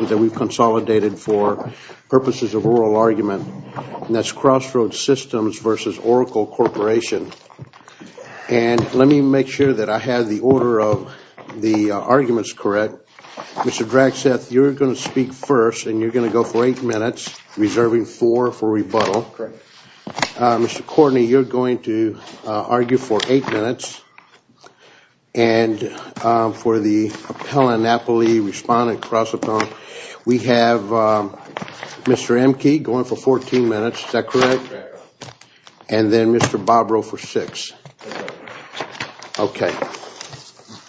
that we've consolidated for purposes of oral argument, and that's Crossroads Systems v. Oracle Corporation. And let me make sure that I have the order of the arguments correct. Mr. Draxeth, you're going to speak first, and you're going to go for eight minutes reserving four for rebuttal. Correct. Mr. Courtney, you're going to argue for eight minutes. And for the appellant, Napoli, respondent, cross-appellant, we have Mr. Emke going for 14 minutes. Is that correct? Correct, Your Honor. And then Mr. Bobrow for six. That's correct, Your Honor. Okay.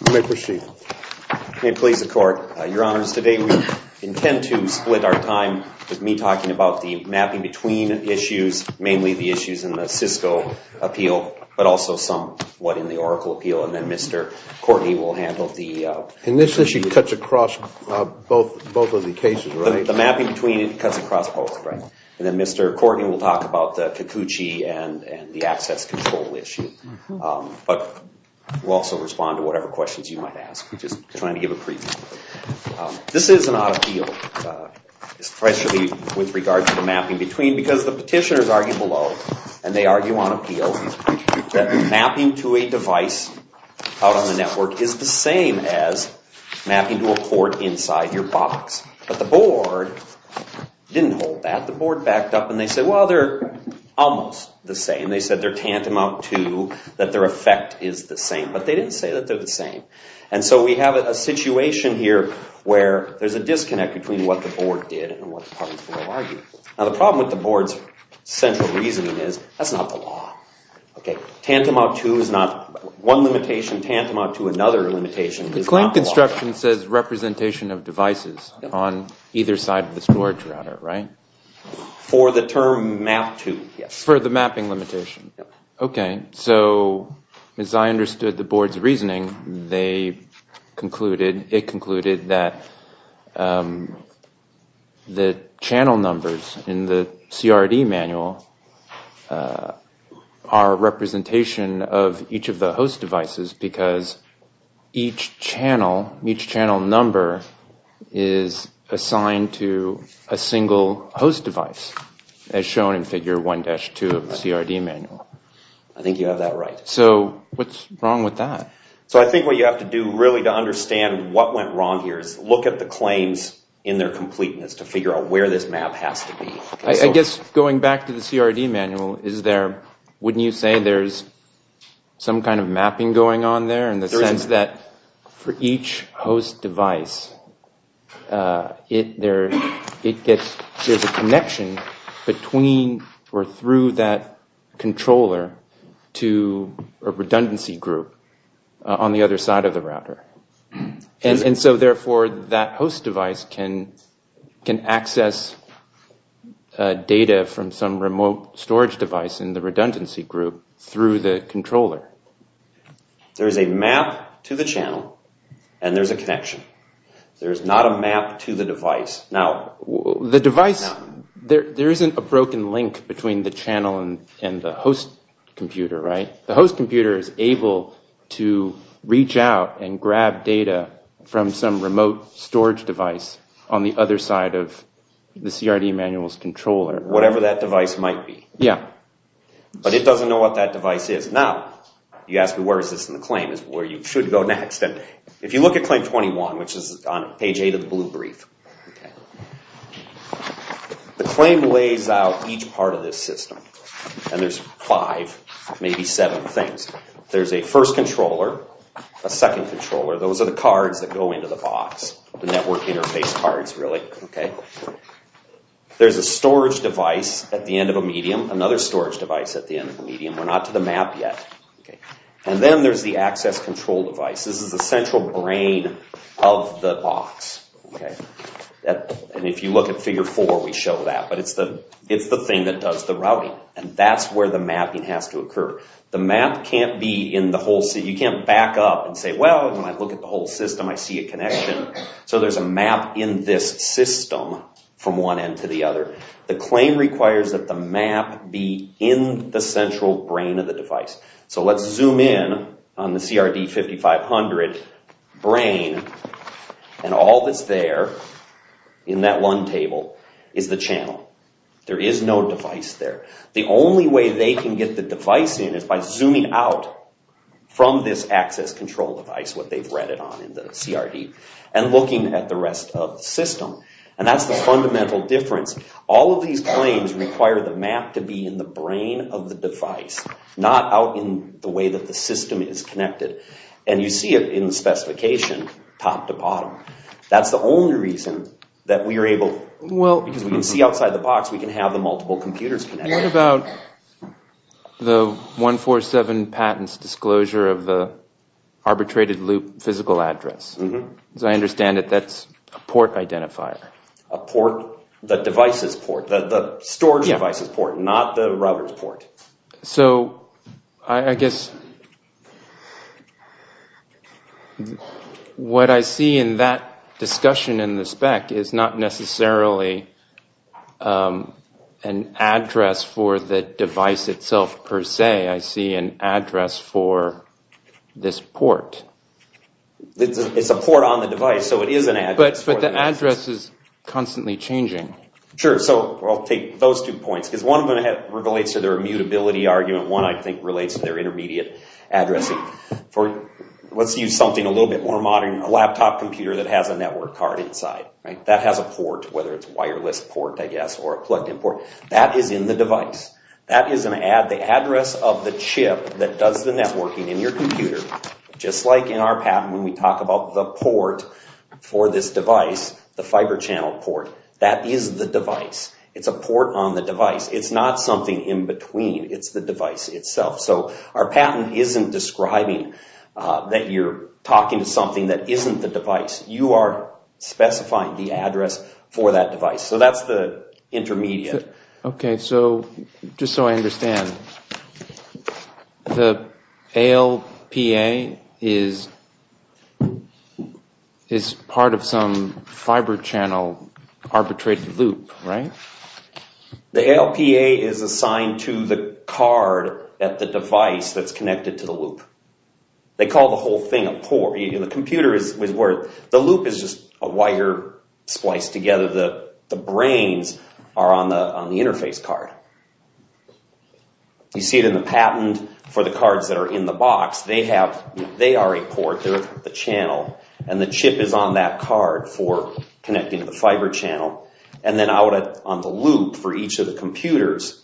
You may proceed. May it please the Court, Your Honors, today we intend to split our time with me talking about the mapping between issues, mainly the issues in the Cisco appeal, but also some what in the Oracle appeal. And then Mr. Courtney will handle the... And this issue cuts across both of the cases, right? The mapping between it cuts across both, correct. And then Mr. Courtney will talk about the CACUCI and the access control issue. But we'll also respond to whatever questions you might ask, just trying to give a preamble. This is an odd appeal, especially with regards to the mapping between, because the petitioners argue below, and they argue on appeal, that mapping to a device out on the network is the same as mapping to a port inside your box. But the board didn't hold that. The board backed up and they said, well, they're almost the same. They said they're tantamount to that their effect is the same. But they didn't say that they're the same. And so we have a situation here where there's a disconnect between what the board did and what the parties below argued. Now, the problem with the board's central reasoning is that's not the law. Tantamount to is not one limitation. Tantamount to another limitation. The claim construction says representation of devices on either side of the storage router, right? For the term map to, yes. For the mapping limitation. Okay. So as I understood the board's reasoning, they concluded, it concluded that the channel numbers in the CRD manual are representation of each of the host devices because each channel, each channel number is assigned to a single host device as shown in figure 1-2 of the CRD manual. I think you have that right. So what's wrong with that? So I think what you have to do really to understand what went wrong here is look at the claims in their completeness to figure out where this map has to be. I guess going back to the CRD manual, is there, wouldn't you say there's some kind of mapping going on there? In the sense that for each host device, it gets, there's a connection between or through that controller to a redundancy group and so therefore that host device can access data from some remote storage device in the redundancy group through the controller. There's a map to the channel and there's a connection. There's not a map to the device. Now, the device, there isn't a broken link between the channel and the host computer, right? The host computer is able to reach out and grab data from some remote storage device on the other side of the CRD manual's controller. Whatever that device might be. Yeah. But it doesn't know what that device is. Now, you ask me where is this in the claim? It's where you should go next. If you look at claim 21, which is on page 8 of the blue brief, the claim lays out each part of this system and there's five, maybe seven things. There's a first controller, a second controller. Those are the cards that go into the box. The network interface cards, really. There's a storage device at the end of a medium, another storage device at the end of a medium. We're not to the map yet. And then there's the access control device. This is the central brain of the box. And if you look at figure 4, we show that. But it's the thing that does the routing. And that's where the mapping has to occur. The map can't be in the whole system. You can't back up and say, well, when I look at the whole system, I see a connection. So there's a map in this system from one end to the other. The claim requires that the map be in the central brain of the device. So let's zoom in on the CRD5500 brain. And all that's there in that one table is the channel. There is no device there. The only way they can get the device in is by zooming out from this access control device, what they've read it on in the CRD, and looking at the rest of the system. And that's the fundamental difference. All of these claims require the map to be in the brain of the device, not out in the way that the system is connected. And you see it in the specification, top to bottom. That's the only reason that we are able, because we can see outside the box, we can have the multiple computers connected. What about the 147 patents disclosure of the arbitrated loop physical address? As I understand it, that's a port identifier. A port, the device's port, the storage device's port, not the router's port. So I guess what I see in that discussion in the spec is not necessarily an address for the device itself per se. I see an address for this port. It's a port on the device, so it is an address. But the address is constantly changing. Sure, so I'll take those two points. Because one of them relates to their immutability argument. One, I think, relates to their intermediate addressing. Let's use something a little bit more modern. A laptop computer that has a network card inside. That has a port, whether it's a wireless port, I guess, or a plug-in port. That is in the device. That is an address of the chip that does the networking in your computer, just like in our patent when we talk about the port for this device, the fiber channel port. That is the device. It's a port on the device. It's not something in between. It's the device itself. So our patent isn't describing that you're talking to something that isn't the device. You are specifying the address for that device. So that's the intermediate. Okay, so just so I understand, the ALPA is part of some fiber channel arbitrated loop, right? The ALPA is assigned to the card at the device that's connected to the loop. They call the whole thing a port. The loop is just a wire spliced together. The brains are on the interface card. You see it in the patent for the cards that are in the box. They are a port. They're the channel, and the chip is on that card for connecting to the fiber channel, and then out on the loop for each of the computers.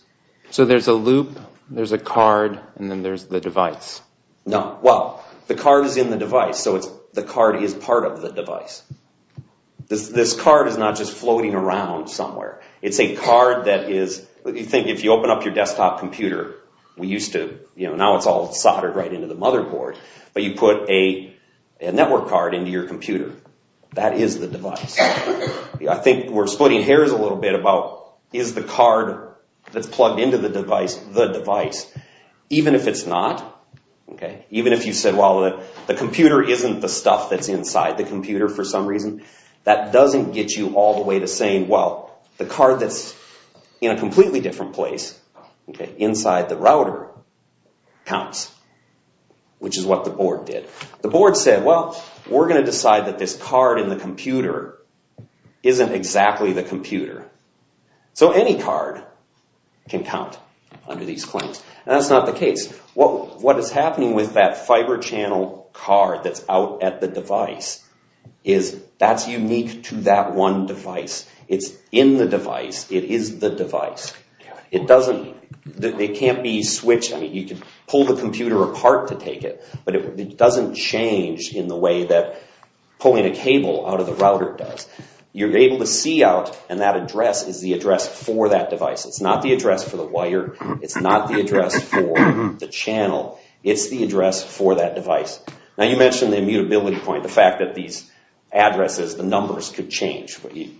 So there's a loop, there's a card, and then there's the device. No. Well, the card is in the device, so the card is part of the device. This card is not just floating around somewhere. It's a card that is, you think if you open up your desktop computer, we used to, you know, now it's all soldered right into the motherboard, but you put a network card into your computer. That is the device. I think we're splitting hairs a little bit about, is the card that's plugged into the device the device? Even if it's not, okay? Even if you said, well, the computer isn't the stuff that's inside the computer for some reason, that doesn't get you all the way to saying, well, the card that's in a completely different place, inside the router, counts, which is what the board did. The board said, well, we're going to decide that this card in the computer isn't exactly the computer. So any card can count under these claims, and that's not the case. What is happening with that fiber channel card that's out at the device is that's unique to that one device. It's in the device. It is the device. It doesn't, it can't be switched. I mean, you can pull the computer apart to take it, but it doesn't change in the way that pulling a cable out of the router does. You're able to see out, and that address is the address for that device. It's not the address for the wire. It's not the address for the channel. It's the address for that device. Now, you mentioned the immutability point, the fact that these addresses, the numbers could change.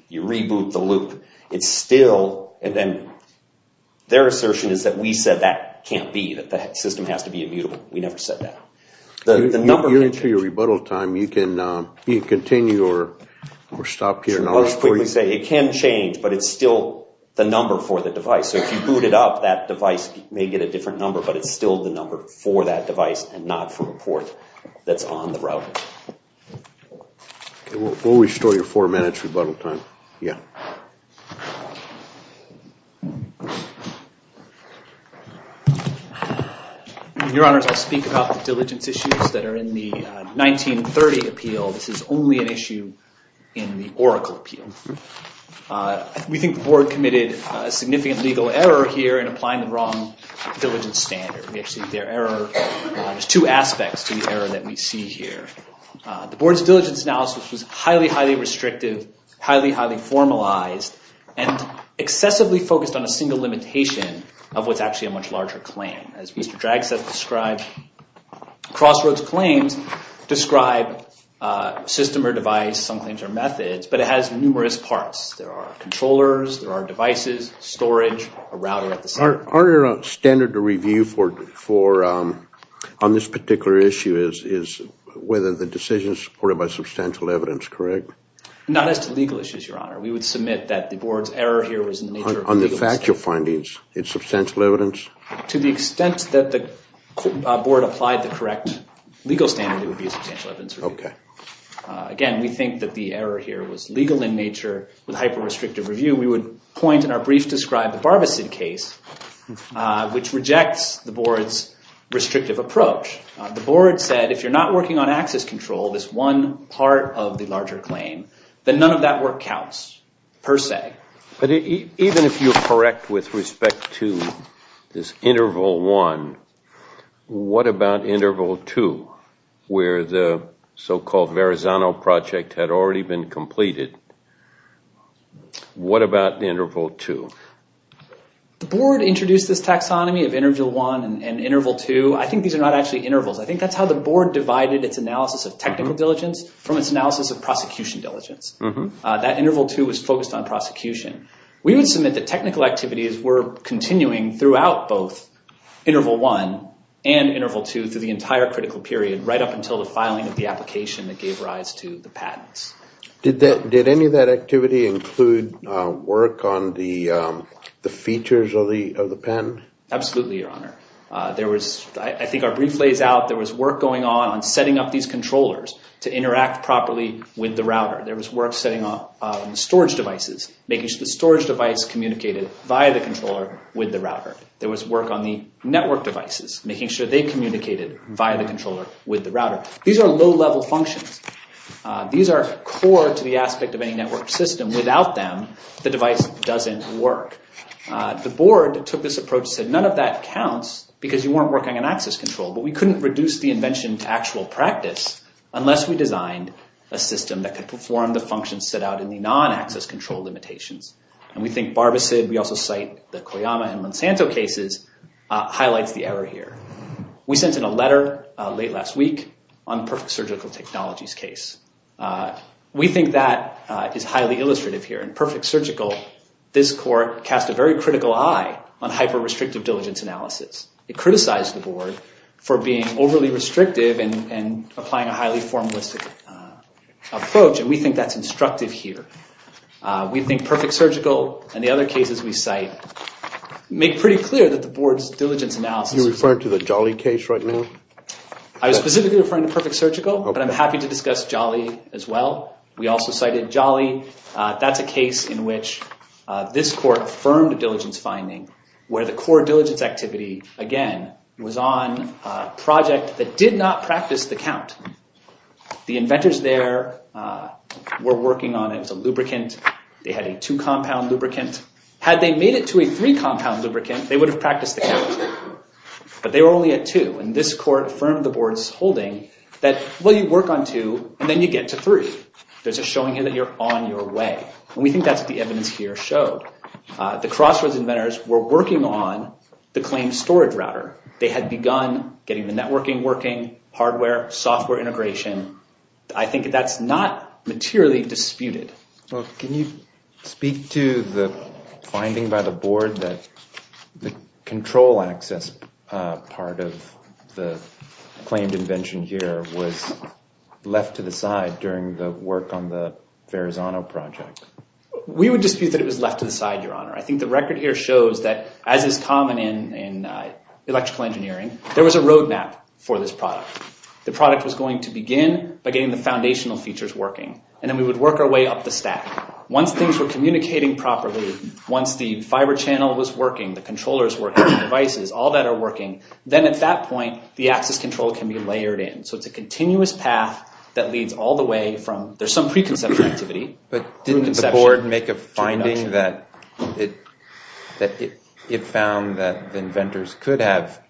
You reboot the loop. It's still, and their assertion is that we said that can't be, that the system has to be immutable. We never said that. The number can change. You're into your rebuttal time. You can continue or stop here. I'll just quickly say it can change, but it's still the number for the device. So if you boot it up, that device may get a different number, but it's still the number for that device and not for a port that's on the router. We'll restore your four minutes rebuttal time. Yeah. Your Honors, I'll speak about the diligence issues that are in the 1930 appeal. This is only an issue in the Oracle appeal. We think the Board committed a significant legal error here in applying the wrong diligence standard. There's two aspects to the error that we see here. The Board's diligence analysis was highly, highly restrictive, highly, highly formalized, and excessively focused on a single limitation of what's actually a much larger claim. As Mr. Dragset described, Crossroads claims describe system or device, some claims are methods, but it has numerous parts. There are controllers, there are devices, storage, a router at the center. Aren't there a standard to review on this particular issue, is whether the decision is supported by substantial evidence, correct? Not as to legal issues, Your Honor. We would submit that the Board's error here was in the nature of the legal system. On the factual findings, it's substantial evidence? To the extent that the Board applied the correct legal standard, it would be a substantial evidence review. Okay. Again, we think that the error here was legal in nature with hyper-restrictive review. We would point in our brief to describe the Barbicid case, which rejects the Board's restrictive approach. The Board said if you're not working on access control, this one part of the larger claim, then none of that work counts, per se. Even if you're correct with respect to this Interval 1, what about Interval 2, where the so-called Verrazano Project had already been completed? What about Interval 2? The Board introduced this taxonomy of Interval 1 and Interval 2. I think these are not actually intervals. I think that's how the Board divided its analysis of technical diligence from its analysis of prosecution diligence. That Interval 2 was focused on prosecution. We would submit that technical activities were continuing throughout both Interval 1 and Interval 2 through the entire critical period, right up until the filing of the application that gave rise to the patents. Did any of that activity include work on the features of the patent? Absolutely, Your Honor. I think our brief lays out there was work going on on setting up these controllers to interact properly with the router. There was work setting up storage devices, making sure the storage device communicated via the controller with the router. There was work on the network devices, making sure they communicated via the controller with the router. These are low-level functions. These are core to the aspect of any network system. Without them, the device doesn't work. The Board took this approach and said none of that counts because you weren't working on access control. But we couldn't reduce the invention to actual practice unless we designed a system that could perform the functions set out in the non-access control limitations. And we think Barbasid, we also cite the Koyama and Monsanto cases, highlights the error here. We sent in a letter late last week on Perfect Surgical Technologies case. We think that is highly illustrative here. And Perfect Surgical, this court, cast a very critical eye on hyper-restrictive diligence analysis. It criticized the Board for being overly restrictive and applying a highly formalistic approach. And we think that's instructive here. We think Perfect Surgical and the other cases we cite make pretty clear that the Board's diligence analysis— Are you referring to the Jolly case right now? I was specifically referring to Perfect Surgical, but I'm happy to discuss Jolly as well. We also cited Jolly. That's a case in which this court affirmed a diligence finding where the core diligence activity, again, was on a project that did not practice the count. The inventors there were working on it. It was a lubricant. They had a two-compound lubricant. Had they made it to a three-compound lubricant, they would have practiced the count. But they were only at two. And this court affirmed the Board's holding that, well, you work on two and then you get to three. There's a showing here that you're on your way. And we think that's what the evidence here showed. The Crossroads inventors were working on the claimed storage router. They had begun getting the networking working, hardware, software integration. I think that's not materially disputed. Can you speak to the finding by the Board that the control access part of the claimed invention here was left to the side during the work on the Verrazano project? We would dispute that it was left to the side, Your Honor. I think the record here shows that, as is common in electrical engineering, there was a roadmap for this product. The product was going to begin by getting the foundational features working. And then we would work our way up the stack. Once things were communicating properly, once the fiber channel was working, the controllers were working, the devices, all that are working, then at that point, the access control can be layered in. So it's a continuous path that leads all the way from there's some preconception activity. But didn't the Board make a finding that it found that the inventors could have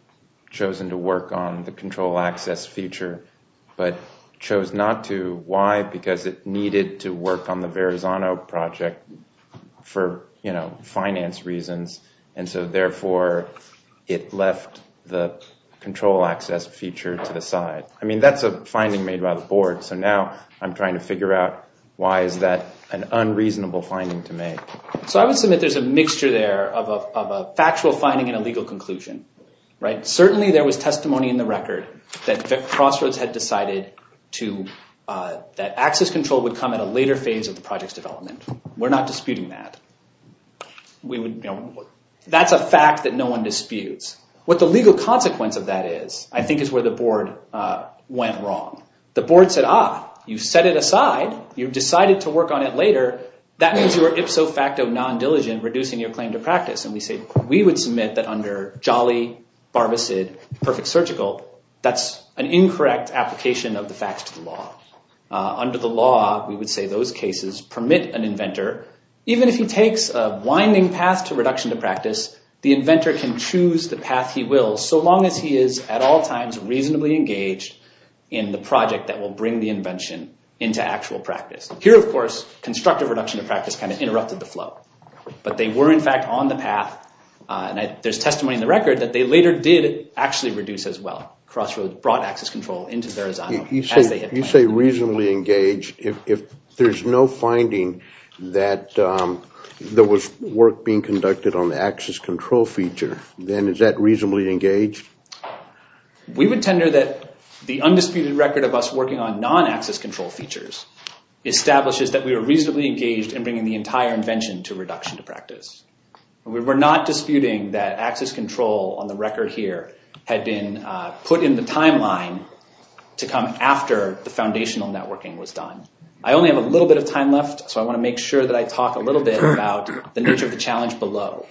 chosen to work on the control access feature but chose not to? Why? Because it needed to work on the Verrazano project for finance reasons. And so, therefore, it left the control access feature to the side. I mean, that's a finding made by the Board. So now I'm trying to figure out why is that an unreasonable finding to make. So I would submit there's a mixture there of a factual finding and a legal conclusion. Certainly there was testimony in the record that Crossroads had decided that access control would come at a later phase of the project's development. We're not disputing that. That's a fact that no one disputes. What the legal consequence of that is, I think, is where the Board went wrong. The Board said, ah, you set it aside. You decided to work on it later. That means you were ipso facto non-diligent, reducing your claim to practice. And we said we would submit that under Jolly, Barbicid, Perfect Surgical, that's an incorrect application of the facts to the law. Under the law, we would say those cases permit an inventor, even if he takes a winding path to reduction to practice, the inventor can choose the path he will, so long as he is at all times reasonably engaged in the project that will bring the invention into actual practice. Here, of course, constructive reduction to practice kind of interrupted the flow. But they were, in fact, on the path. And there's testimony in the record that they later did actually reduce as well. Crossroads brought access control into Verrazano. You say reasonably engaged. If there's no finding that there was work being conducted on the access control feature, then is that reasonably engaged? We would tender that the undisputed record of us working on non-access control features establishes that we were reasonably engaged in bringing the entire invention to reduction to practice. We were not disputing that access control on the record here had been put in the timeline to come after the foundational networking was done. I only have a little bit of time left, so I want to make sure that I talk a little bit about the nature of the challenge below.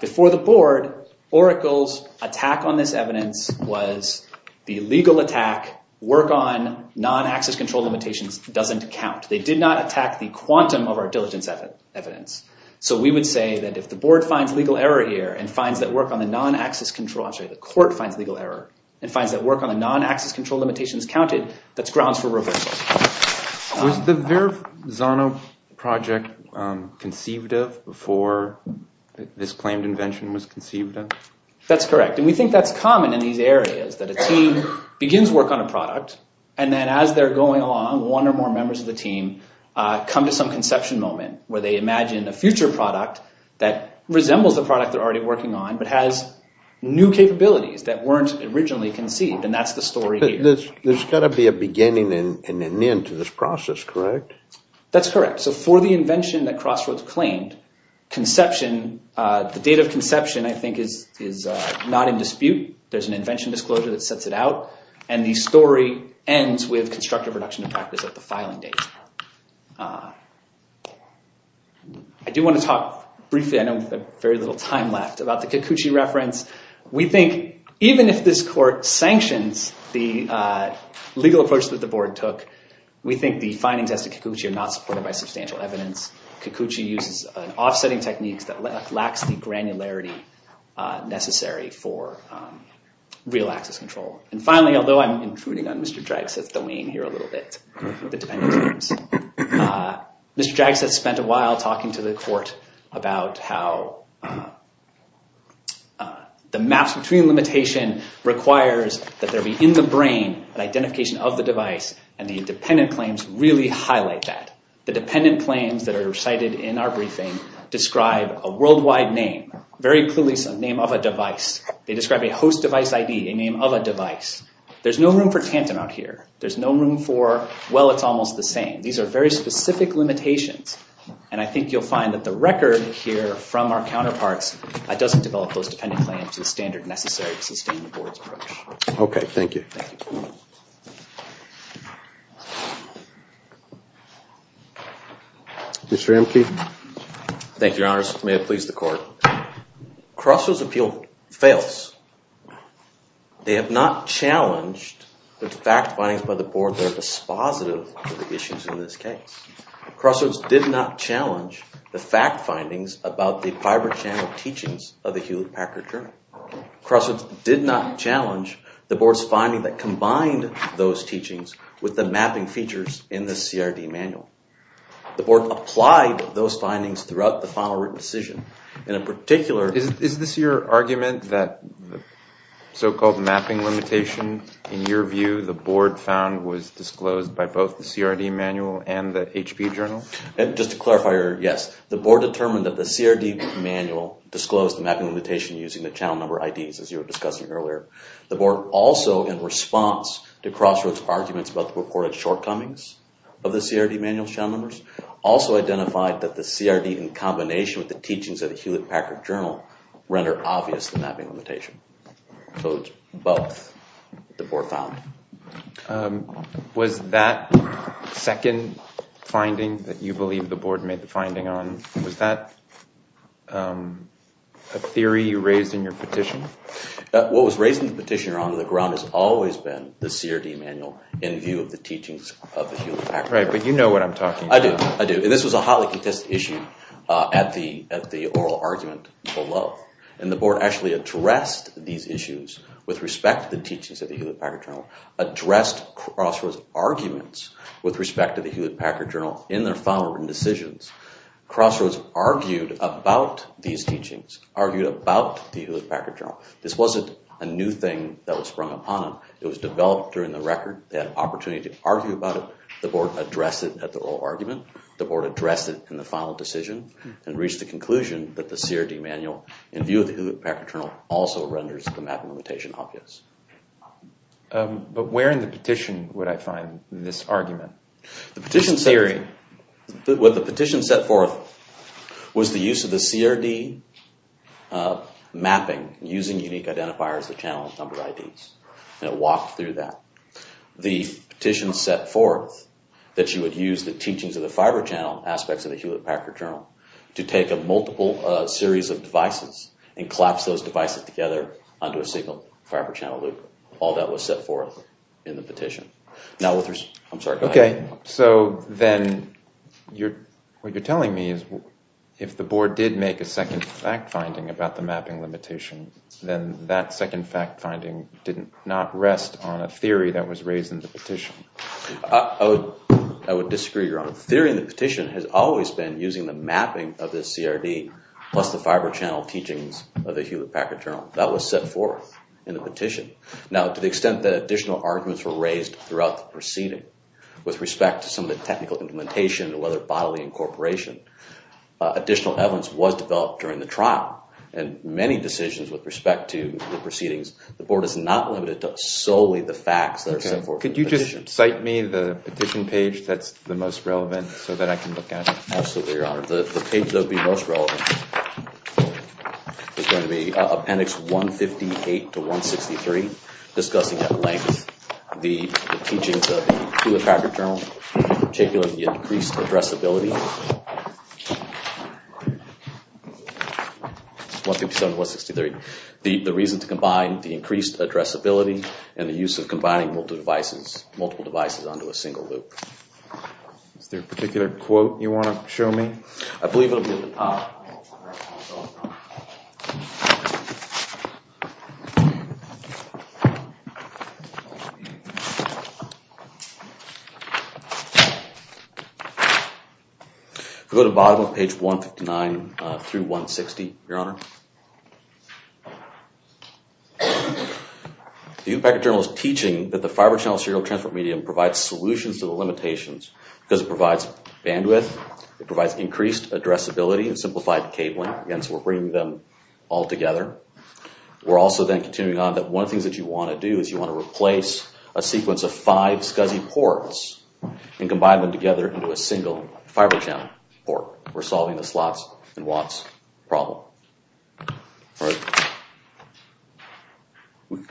Before the board, Oracle's attack on this evidence was the legal attack, work on non-access control limitations doesn't count. They did not attack the quantum of our diligence evidence. So we would say that if the board finds legal error here and finds that work on the non-access control, I'm sorry, the court finds legal error and finds that work on the non-access control limitations counted, that's grounds for reversal. Was the Verzano project conceived of before this claimed invention was conceived of? That's correct, and we think that's common in these areas, that a team begins work on a product and then as they're going along, one or more members of the team come to some conception moment where they imagine a future product that resembles the product they're already working on but has new capabilities that weren't originally conceived, and that's the story here. So there's got to be a beginning and an end to this process, correct? That's correct. So for the invention that Crossroads claimed, the date of conception I think is not in dispute. There's an invention disclosure that sets it out, and the story ends with constructive reduction of practice at the filing date. I do want to talk briefly, I know we have very little time left, about the Cacucci reference. We think even if this court sanctions the legal approach that the board took, we think the findings as to Cacucci are not supported by substantial evidence. Cacucci uses an offsetting technique that lacks the granularity necessary for real access control. And finally, although I'm intruding on Mr. Drax's domain here a little bit, Mr. Drax has spent a while talking to the court about how the maps between limitation requires that there be in the brain an identification of the device, and the independent claims really highlight that. The dependent claims that are cited in our briefing describe a worldwide name, very clearly a name of a device. They describe a host device ID, a name of a device. There's no room for tantum out here. There's no room for, well, it's almost the same. These are very specific limitations, and I think you'll find that the record here from our counterparts doesn't develop those dependent claims to the standard necessary to sustain the board's approach. Okay, thank you. Mr. Amke. Thank you, Your Honors. May it please the court. Crossroads' appeal fails. They have not challenged the fact findings by the board that are dispositive of the issues in this case. Crossroads did not challenge the fact findings about the fiber channel teachings of the Hewlett Packard Journal. Crossroads did not challenge the board's finding that combined those teachings with the mapping features in the CRD manual. The board applied those findings throughout the final written decision, and in particular… Is this your argument that the so-called mapping limitation, in your view, the board found was disclosed by both the CRD manual and the HP Journal? Just to clarify, yes. The board determined that the CRD manual disclosed the mapping limitation using the channel number IDs, as you were discussing earlier. The board also, in response to Crossroads' arguments about the reported shortcomings of the CRD manual channel numbers, also identified that the CRD in combination with the teachings of the Hewlett Packard Journal render obvious the mapping limitation. So it's both the board found. Was that second finding that you believe the board made the finding on, was that a theory you raised in your petition? What was raised in the petition, Your Honor, the ground has always been the CRD manual in view of the teachings of the Hewlett Packard Journal. Right, but you know what I'm talking about. I do, I do. And this was a highly contested issue at the oral argument below. And the board actually addressed these issues with respect to the teachings of the Hewlett Packard Journal, addressed Crossroads' arguments with respect to the Hewlett Packard Journal in their final written decisions. Crossroads argued about these teachings, argued about the Hewlett Packard Journal. This wasn't a new thing that was sprung upon them. It was developed during the record. They had an opportunity to argue about it. The board addressed it at the oral argument. The board addressed it in the final decision and reached the conclusion that the CRD manual in view of the Hewlett Packard Journal also renders the mapping limitation obvious. But where in the petition would I find this argument? The petition set forth was the use of the CRD mapping, using unique identifiers to channel number IDs. And it walked through that. The petition set forth that you would use the teachings of the fiber channel aspects of the Hewlett Packard Journal to take a multiple series of devices and collapse those devices together onto a single fiber channel loop. All that was set forth in the petition. Okay, so then what you're telling me is if the board did make a second fact finding about the mapping limitation, then that second fact finding did not rest on a theory that was raised in the petition. I would disagree, Your Honor. The theory in the petition has always been using the mapping of the CRD plus the fiber channel teachings of the Hewlett Packard Journal. That was set forth in the petition. Now, to the extent that additional arguments were raised throughout the proceeding with respect to some of the technical implementation or other bodily incorporation, additional evidence was developed during the trial. In many decisions with respect to the proceedings, the board is not limited to solely the facts that are set forth. Could you just cite me the petition page that's the most relevant so that I can look at it? Absolutely, Your Honor. The page that would be most relevant is going to be appendix 158 to 163, discussing at length the teachings of the Hewlett Packard Journal, in particular, the increased addressability. The reason to combine the increased addressability and the use of combining multiple devices onto a single loop. Is there a particular quote you want to show me? I believe it will be at the top. Go to the bottom of page 159 through 160, Your Honor. The Hewlett Packard Journal is teaching that the fiber channel serial transport medium provides solutions to the limitations because it provides bandwidth, it provides increased addressability and simplified cabling. Again, so we're bringing them all together. We're also then continuing on that one of the things that you want to do is you want to replace a sequence of five SCSI ports and combine them together into a single fiber channel port. We're solving the slots and watts problem.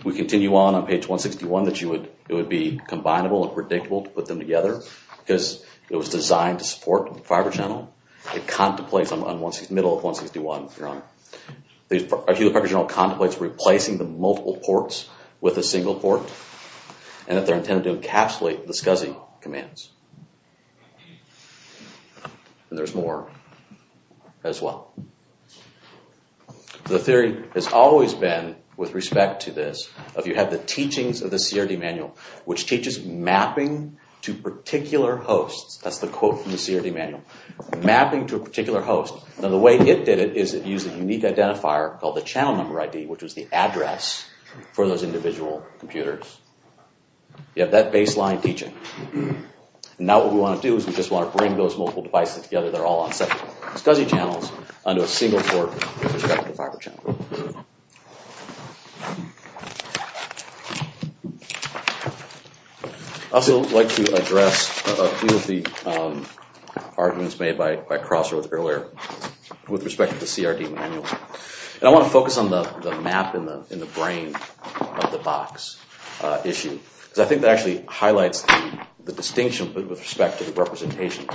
We continue on on page 161 that it would be combinable and predictable to put them together because it was designed to support the fiber channel. It contemplates on the middle of 161, Your Honor. The Hewlett Packard Journal contemplates replacing the multiple ports with a single port and that they're intended to encapsulate the SCSI commands. And there's more as well. The theory has always been, with respect to this, of you have the teachings of the CRD manual which teaches mapping to particular hosts. That's the quote from the CRD manual. Mapping to a particular host. Now the way it did it is it used a unique identifier called the channel number ID which was the address for those individual computers. You have that baseline teaching. Now what we want to do is we just want to bring those multiple devices together. They're all on separate SCSI channels onto a single port with respect to the fiber channel. I'd also like to address a few of the arguments made by Crossworth earlier with respect to the CRD manual. I want to focus on the map in the brain of the box issue. I think that actually highlights the distinction with respect to the representation.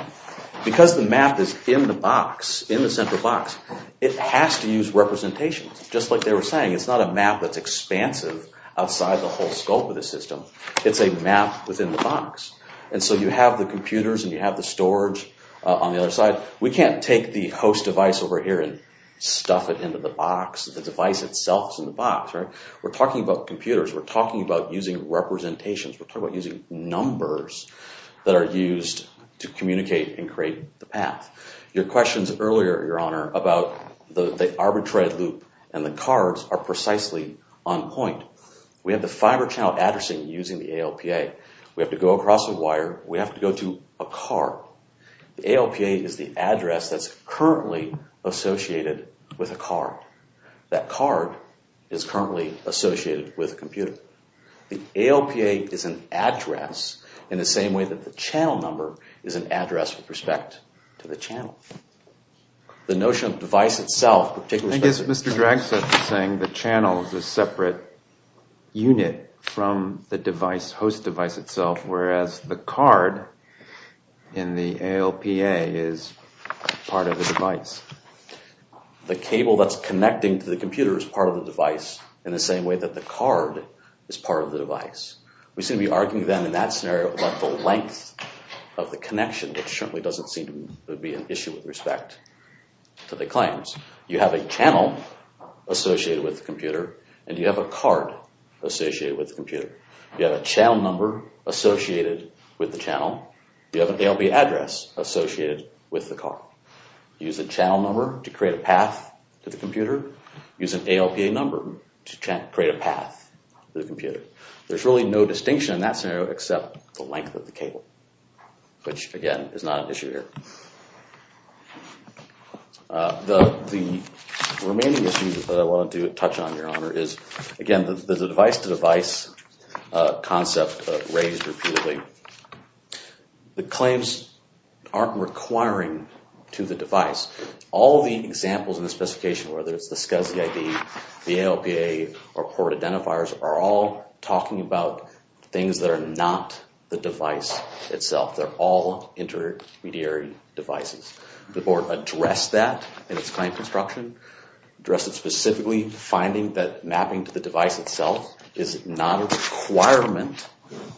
Because the map is in the box, in the center box, it has to use representation just like they were saying. It's not a map that's expansive outside the whole scope of the system. It's a map within the box. And so you have the computers and you have the storage on the other side. But we can't take the host device over here and stuff it into the box. The device itself is in the box. We're talking about computers. We're talking about using representations. We're talking about using numbers that are used to communicate and create the path. Your questions earlier, Your Honor, about the arbitrary loop and the cards are precisely on point. We have the fiber channel addressing using the ALPA. We have to go across a wire. We have to go to a card. The ALPA is the address that's currently associated with a card. That card is currently associated with a computer. The ALPA is an address in the same way that the channel number is an address with respect to the channel. The notion of the device itself, particularly... I guess Mr. Dragset is saying the channel is a separate unit from the device, host device itself, whereas the card in the ALPA is part of the device. The cable that's connecting to the computer is part of the device in the same way that the card is part of the device. We seem to be arguing then in that scenario about the length of the connection. It certainly doesn't seem to be an issue with respect to the claims. You have a channel associated with the computer and you have a card associated with the computer. You have a channel number associated with the channel. You have an ALPA address associated with the card. Use the channel number to create a path to the computer. Use an ALPA number to create a path to the computer. There's really no distinction in that scenario except the length of the cable, which, again, is not an issue here. The remaining issue that I wanted to touch on, Your Honor, is, again, the device-to-device concept raised repeatedly. The claims aren't requiring to the device. All the examples in the specification, whether it's the SCSI ID, the ALPA, or port identifiers, are all talking about things that are not the device itself. They're all intermediary devices. The Board addressed that in its claim construction. Addressed it specifically, finding that mapping to the device itself is not a requirement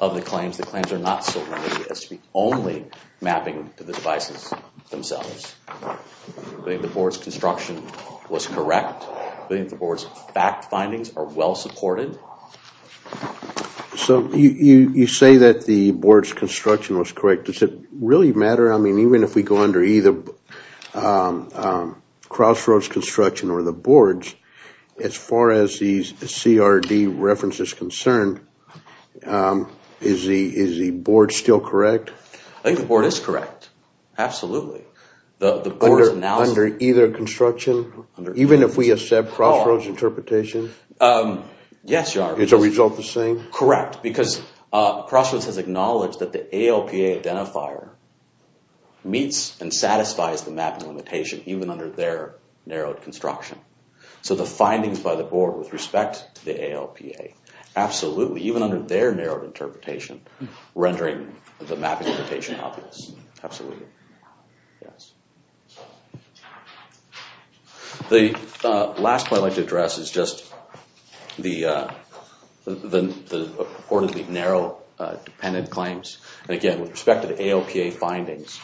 of the claims. The claims are not so limited as to be only mapping to the devices themselves. I think the Board's construction was correct. I think the Board's fact findings are well supported. So you say that the Board's construction was correct. Does it really matter? I mean, even if we go under either Crossroads construction or the Board's, as far as the CRD reference is concerned, is the Board still correct? I think the Board is correct, absolutely. Under either construction? Even if we accept Crossroads interpretation? Yes, Your Honor. Is the result the same? Correct, because Crossroads has acknowledged that the ALPA identifier meets and satisfies the mapping limitation, even under their narrowed construction. So the findings by the Board with respect to the ALPA, absolutely. Even under their narrowed interpretation, rendering the mapping limitation obvious. Absolutely. Thank you. The last point I'd like to address is just the purportedly narrow dependent claims. Again, with respect to the ALPA findings,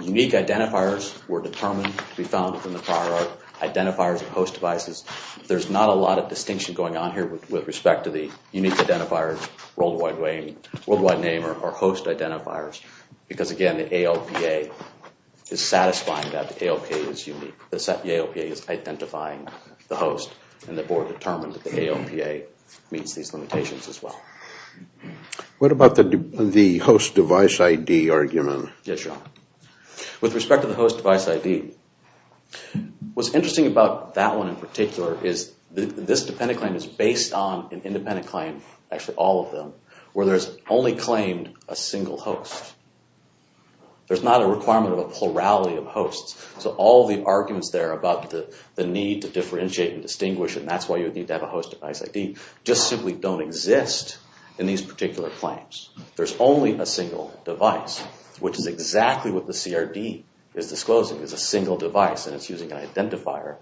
unique identifiers were determined to be found within the prior art, identifiers of host devices. There's not a lot of distinction going on here with respect to the unique identifiers, worldwide name, or host identifiers. Because, again, the ALPA is satisfying that the ALPA is unique. The ALPA is identifying the host, and the Board determined that the ALPA meets these limitations as well. What about the host device ID argument? Yes, Your Honor. With respect to the host device ID, what's interesting about that one in particular is this dependent claim is based on an independent claim, actually all of them, where there's only claimed a single host. There's not a requirement of a plurality of hosts. So all the arguments there about the need to differentiate and distinguish, and that's why you would need to have a host device ID, just simply don't exist in these particular claims. There's only a single device, which is exactly what the CRD is disclosing, is a single device, and it's using an identifier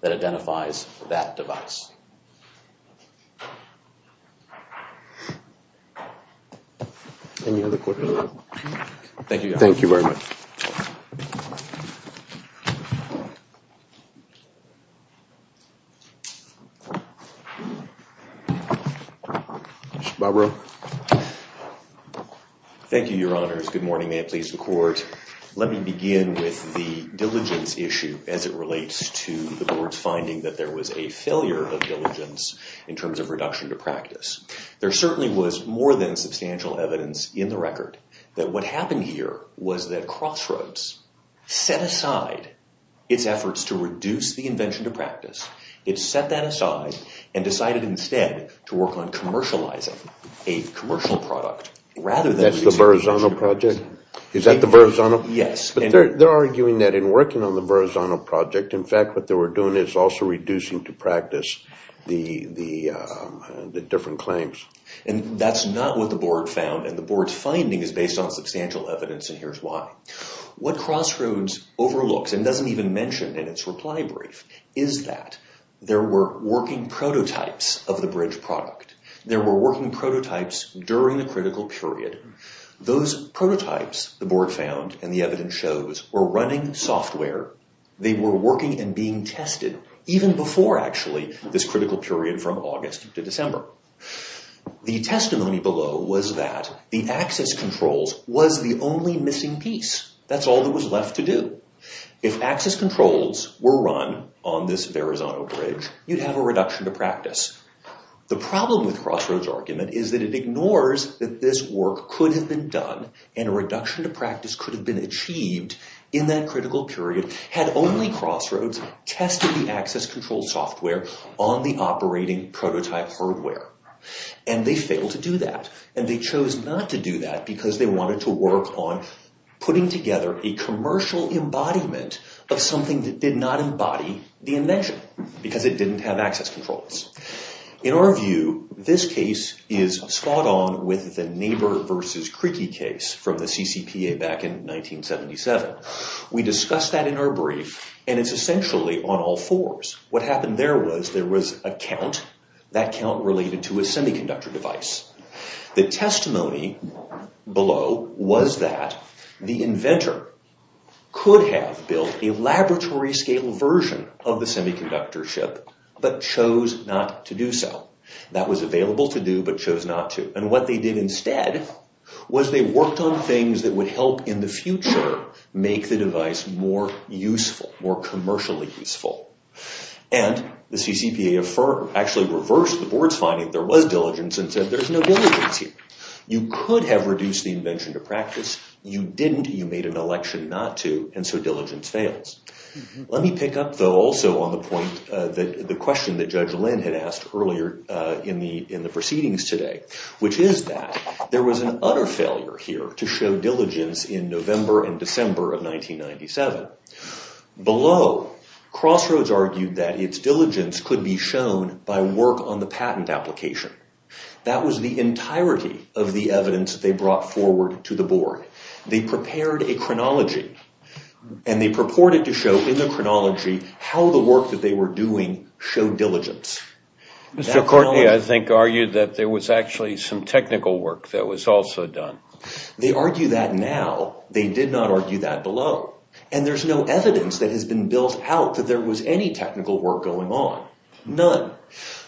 that identifies that device. Any other questions? Thank you, Your Honor. Thank you very much. Barbara. Thank you, Your Honors. Good morning. May it please the Court. Let me begin with the diligence issue as it relates to the Board's finding that there was a failure of diligence in terms of reduction to practice. There certainly was more than substantial evidence in the record that what happened here was that Crossroads set aside its efforts to reduce the invention to practice. It set that aside and decided instead to work on commercializing a commercial product rather than... That's the Verrazano project? Is that the Verrazano? Yes. They're arguing that in working on the Verrazano project, in fact, what they were doing is also reducing to practice the different claims. And that's not what the Board found, and the Board's finding is based on substantial evidence, and here's why. What Crossroads overlooks, and doesn't even mention in its reply brief, is that there were working prototypes of the bridge product. There were working prototypes during the critical period. Those prototypes, the Board found and the evidence shows, were running software. They were working and being tested even before, actually, this critical period from August to December. The testimony below was that the access controls was the only missing piece. That's all that was left to do. If access controls were run on this Verrazano bridge, you'd have a reduction to practice. The problem with Crossroads' argument is that it ignores that this work could have been done, and a reduction to practice could have been achieved in that critical period had only Crossroads tested the access control software on the operating prototype hardware. And they failed to do that, and they chose not to do that because they wanted to work on putting together a commercial embodiment of something that did not embody the invention because it didn't have access controls. In our view, this case is spot on with the neighbor versus creaky case from the CCPA back in 1977. We discussed that in our brief, and it's essentially on all fours. What happened there was there was a count, that count related to a semiconductor device. The testimony below was that the inventor could have built a laboratory scale version of the semiconductor ship, but chose not to do so. That was available to do, but chose not to. And what they did instead was they worked on things that would help in the future make the device more useful, more commercially useful. And the CCPA actually reversed the board's finding. There was diligence and said there's no diligence here. You could have reduced the invention to practice. You didn't. You made an election not to, and so diligence fails. Let me pick up, though, also on the question that Judge Lynn had asked earlier in the proceedings today, which is that there was an utter failure here to show diligence in November and December of 1997. Below, Crossroads argued that its diligence could be shown by work on the patent application. That was the entirety of the evidence they brought forward to the board. They prepared a chronology, and they purported to show in the chronology how the work that they were doing showed diligence. Mr. Courtney, I think, argued that there was actually some technical work that was also done. They argue that now. They did not argue that below. And there's no evidence that has been built out that there was any technical work going on. None.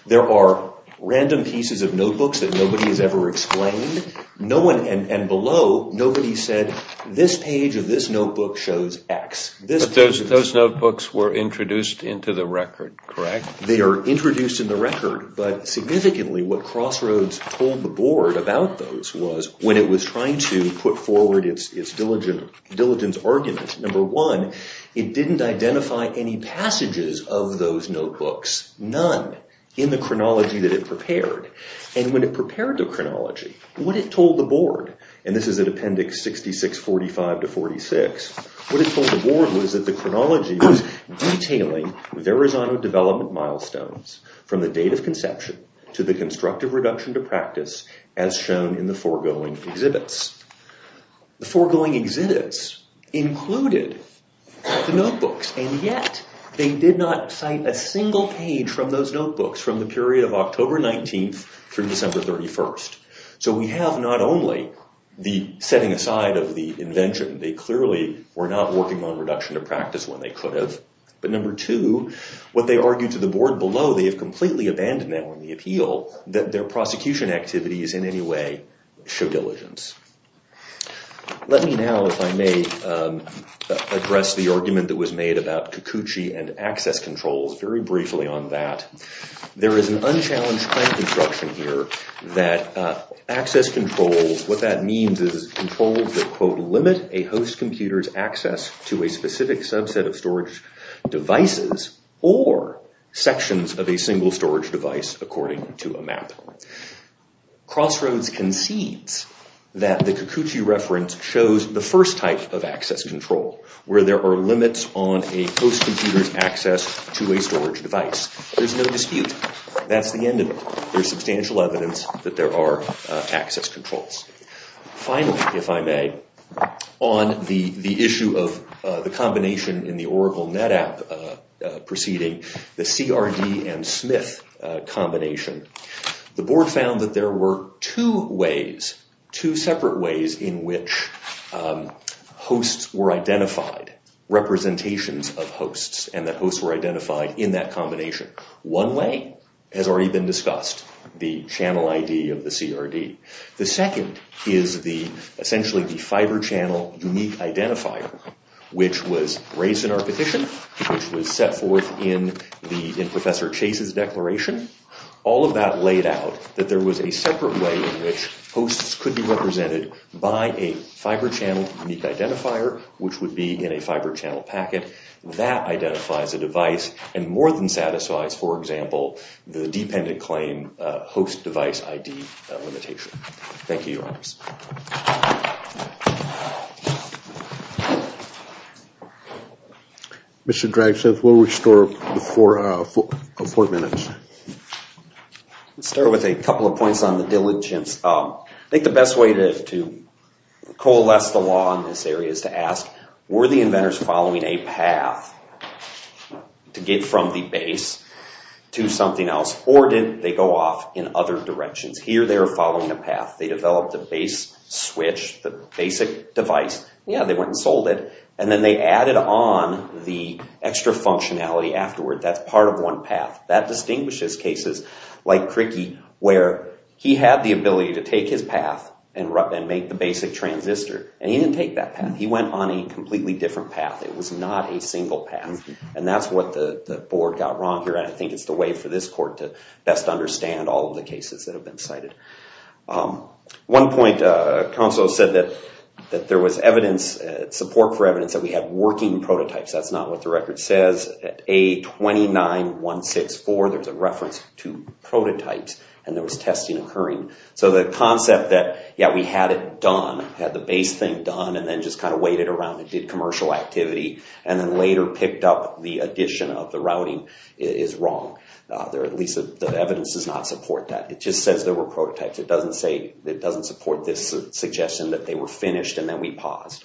There are random pieces of notebooks that nobody has ever explained. And below, nobody said, this page of this notebook shows X. Those notebooks were introduced into the record, correct? They are introduced in the record. But significantly, what Crossroads told the board about those was when it was trying to put forward its diligence argument, number one, it didn't identify any passages of those notebooks. None in the chronology that it prepared. And when it prepared the chronology, what it told the board, and this is in appendix 6645 to 46, what it told the board was that the chronology was detailing with Arizona development milestones from the date of conception to the constructive reduction to practice as shown in the foregoing exhibits. And yet, they did not cite a single page from those notebooks from the period of October 19th through December 31st. So we have not only the setting aside of the invention. They clearly were not working on reduction to practice when they could have. But number two, what they argued to the board below, they have completely abandoned that on the appeal, that their prosecution activities in any way show diligence. Let me now, if I may, address the argument that was made about Kikuchi and access controls very briefly on that. There is an unchallenged claim construction here that access controls, what that means is controls that, quote, limit a host computer's access to a specific subset of storage devices or sections of a single storage device according to a map. Crossroads concedes that the Kikuchi reference shows the first type of access control where there are limits on a host computer's access to a storage device. There's no dispute. That's the end of it. There's substantial evidence that there are access controls. Finally, if I may, on the issue of the combination in the Oracle NetApp proceeding, the CRD and Smith combination, the board found that there were two ways, two separate ways in which hosts were identified, representations of hosts, and that hosts were identified in that combination. One way has already been discussed, the channel ID of the CRD. The second is essentially the fiber channel unique identifier, which was raised in our petition, which was set forth in Professor Chase's declaration. All of that laid out that there was a separate way in which hosts could be represented by a fiber channel unique identifier, which would be in a fiber channel packet. That identifies a device and more than satisfies, for example, the dependent claim host device ID limitation. Thank you, Your Honors. Mr. Dragseth, we'll restore before four minutes. Let's start with a couple of points on the diligence. I think the best way to coalesce the law in this area is to ask, were the inventors following a path to get from the base to something else, or did they go off in other directions? Here they are following a path. They developed a base switch, the basic device. Yeah, they went and sold it, and then they added on the extra functionality afterward. That's part of one path. That distinguishes cases like Crickey, where he had the ability to take his path and make the basic transistor, and he didn't take that path. He went on a completely different path. It was not a single path, and that's what the board got wrong here, and I think it's the way for this court to best understand all of the cases that have been cited. One point, counsel said that there was evidence, support for evidence, that we had working prototypes. That's not what the record says. At A29164, there's a reference to prototypes, and there was testing occurring. So the concept that, yeah, we had it done, had the base thing done, and then just kind of waited around and did commercial activity, and then later picked up the addition of the routing is wrong. At least the evidence does not support that. It just says there were prototypes. It doesn't support this suggestion that they were finished, and then we paused.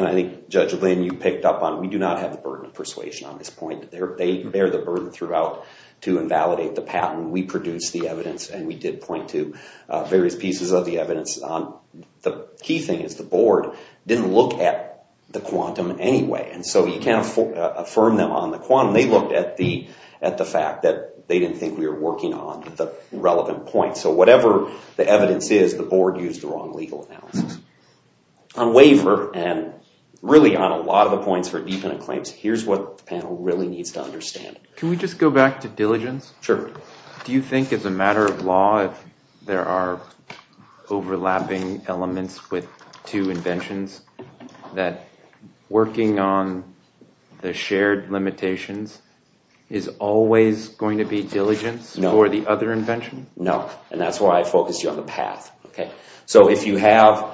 I think, Judge Lynn, you picked up on we do not have the burden of persuasion on this point. They bear the burden throughout to invalidate the patent. We produced the evidence, and we did point to various pieces of the evidence. The key thing is the board didn't look at the quantum anyway, and so you can't affirm them on the quantum. They looked at the fact that they didn't think we were working on the relevant points. So whatever the evidence is, the board used the wrong legal analysis. On waiver, and really on a lot of the points for independent claims, here's what the panel really needs to understand. Can we just go back to diligence? Do you think, as a matter of law, if there are overlapping elements with two inventions, that working on the shared limitations is always going to be diligence for the other invention? No, and that's why I focused you on the path. So if you have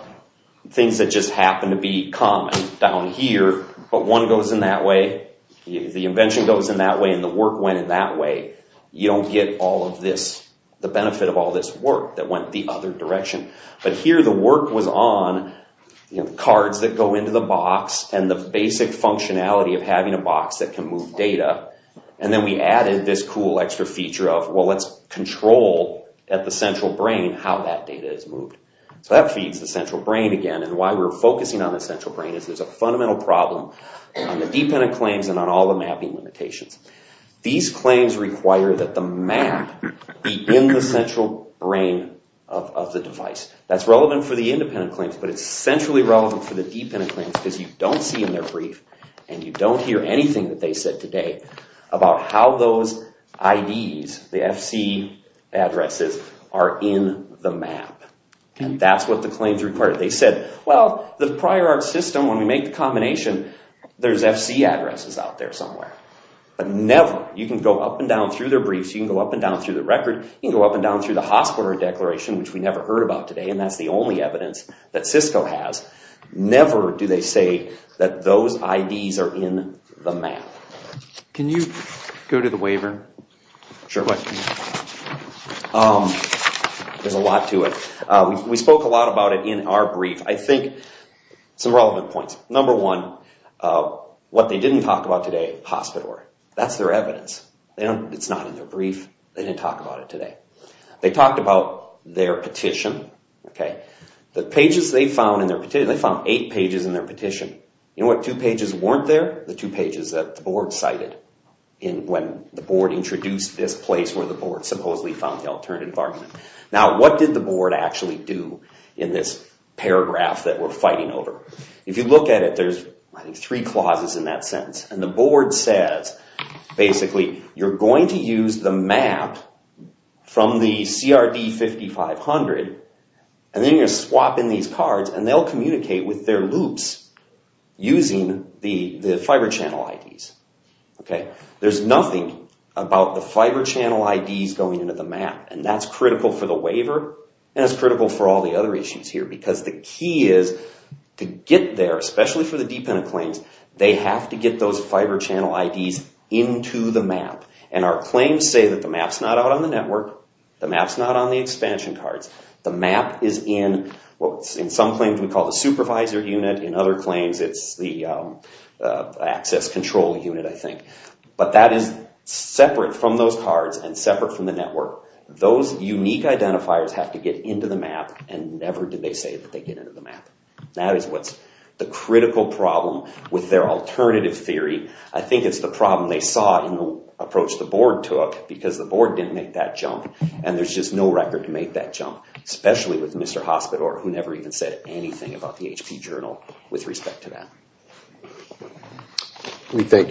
things that just happen to be common down here, but one goes in that way, the invention goes in that way, and the work went in that way, you don't get all of this, the benefit of all this work that went the other direction. But here the work was on cards that go into the box, and the basic functionality of having a box that can move data, and then we added this cool extra feature of, well let's control at the central brain how that data is moved. So that feeds the central brain again, and why we're focusing on the central brain is there's a fundamental problem on the dependent claims and on all the mapping limitations. These claims require that the map be in the central brain of the device. That's relevant for the independent claims, but it's centrally relevant for the dependent claims, because you don't see in their brief, and you don't hear anything that they said today, about how those IDs, the FC addresses, are in the map. And that's what the claims require. They said, well the prior art system, when we make the combination, there's FC addresses out there somewhere. But never, you can go up and down through their briefs, you can go up and down through the record, you can go up and down through the hospital declaration, which we never heard about today, and that's the only evidence that Cisco has. Never do they say that those IDs are in the map. Can you go to the waiver? Sure. There's a lot to it. We spoke a lot about it in our brief. I think some relevant points. Number one, what they didn't talk about today, hospital. That's their evidence. It's not in their brief, they didn't talk about it today. They talked about their petition. The pages they found in their petition, they found eight pages in their petition. You know what two pages weren't there? The two pages that the board cited, when the board introduced this place, where the board supposedly found the alternate environment. Now what did the board actually do, in this paragraph that we're fighting over? If you look at it, there's three clauses in that sentence, and the board says, basically, you're going to use the map from the CRD 5500, and then you're going to swap in these cards, and they'll communicate with their loops using the fiber channel IDs. There's nothing about the fiber channel IDs going into the map, and that's critical for the waiver, and it's critical for all the other issues here, because the key is to get there, especially for the dependent claims, they have to get those fiber channel IDs into the map, and our claims say that the map's not out on the network, the map's not on the expansion cards. The map is in, in some claims we call the supervisor unit, in other claims it's the access control unit, I think. But that is separate from those cards, and separate from the network. Those unique identifiers have to get into the map, and never did they say that they get into the map. That is what's the critical problem with their alternative theory. I think it's the problem they saw in the approach the board took, because the board didn't make that jump, and there's just no record to make that jump, especially with Mr. Hospitor, who never even said anything about the HP journal with respect to that. We thank you very much.